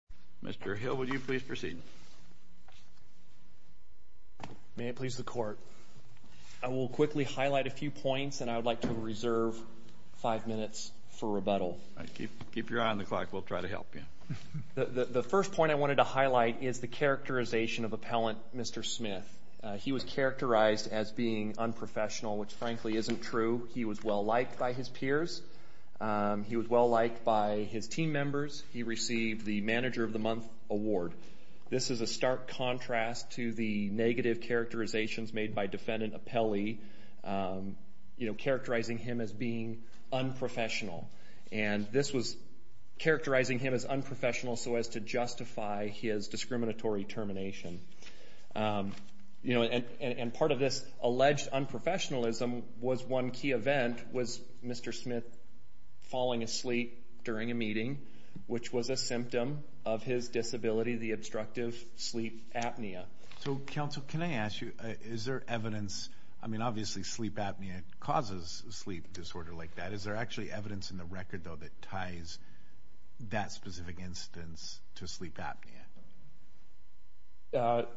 Mr. Hill, would you please proceed? May it please the Court, I will quickly highlight a few points and I would like to reserve five minutes for rebuttal. Keep your eye on the clock, we'll try to help you. The first point I wanted to highlight is the characterization of Appellant Mr. Smith. He was characterized as being unprofessional, which frankly isn't true. He was well-liked by his team members. He received the Manager of the Month Award. This is a stark contrast to the negative characterizations made by Defendant Appelli, you know, characterizing him as being unprofessional. And this was characterizing him as unprofessional so as to justify his discriminatory termination. You know, and part of this alleged unprofessionalism was one key event, was Mr. Smith falling asleep during a meeting, which was a symptom of his disability, the obstructive sleep apnea. So, counsel, can I ask you, is there evidence, I mean obviously sleep apnea causes sleep disorder like that, is there actually evidence in the record though that ties that specific instance to sleep apnea?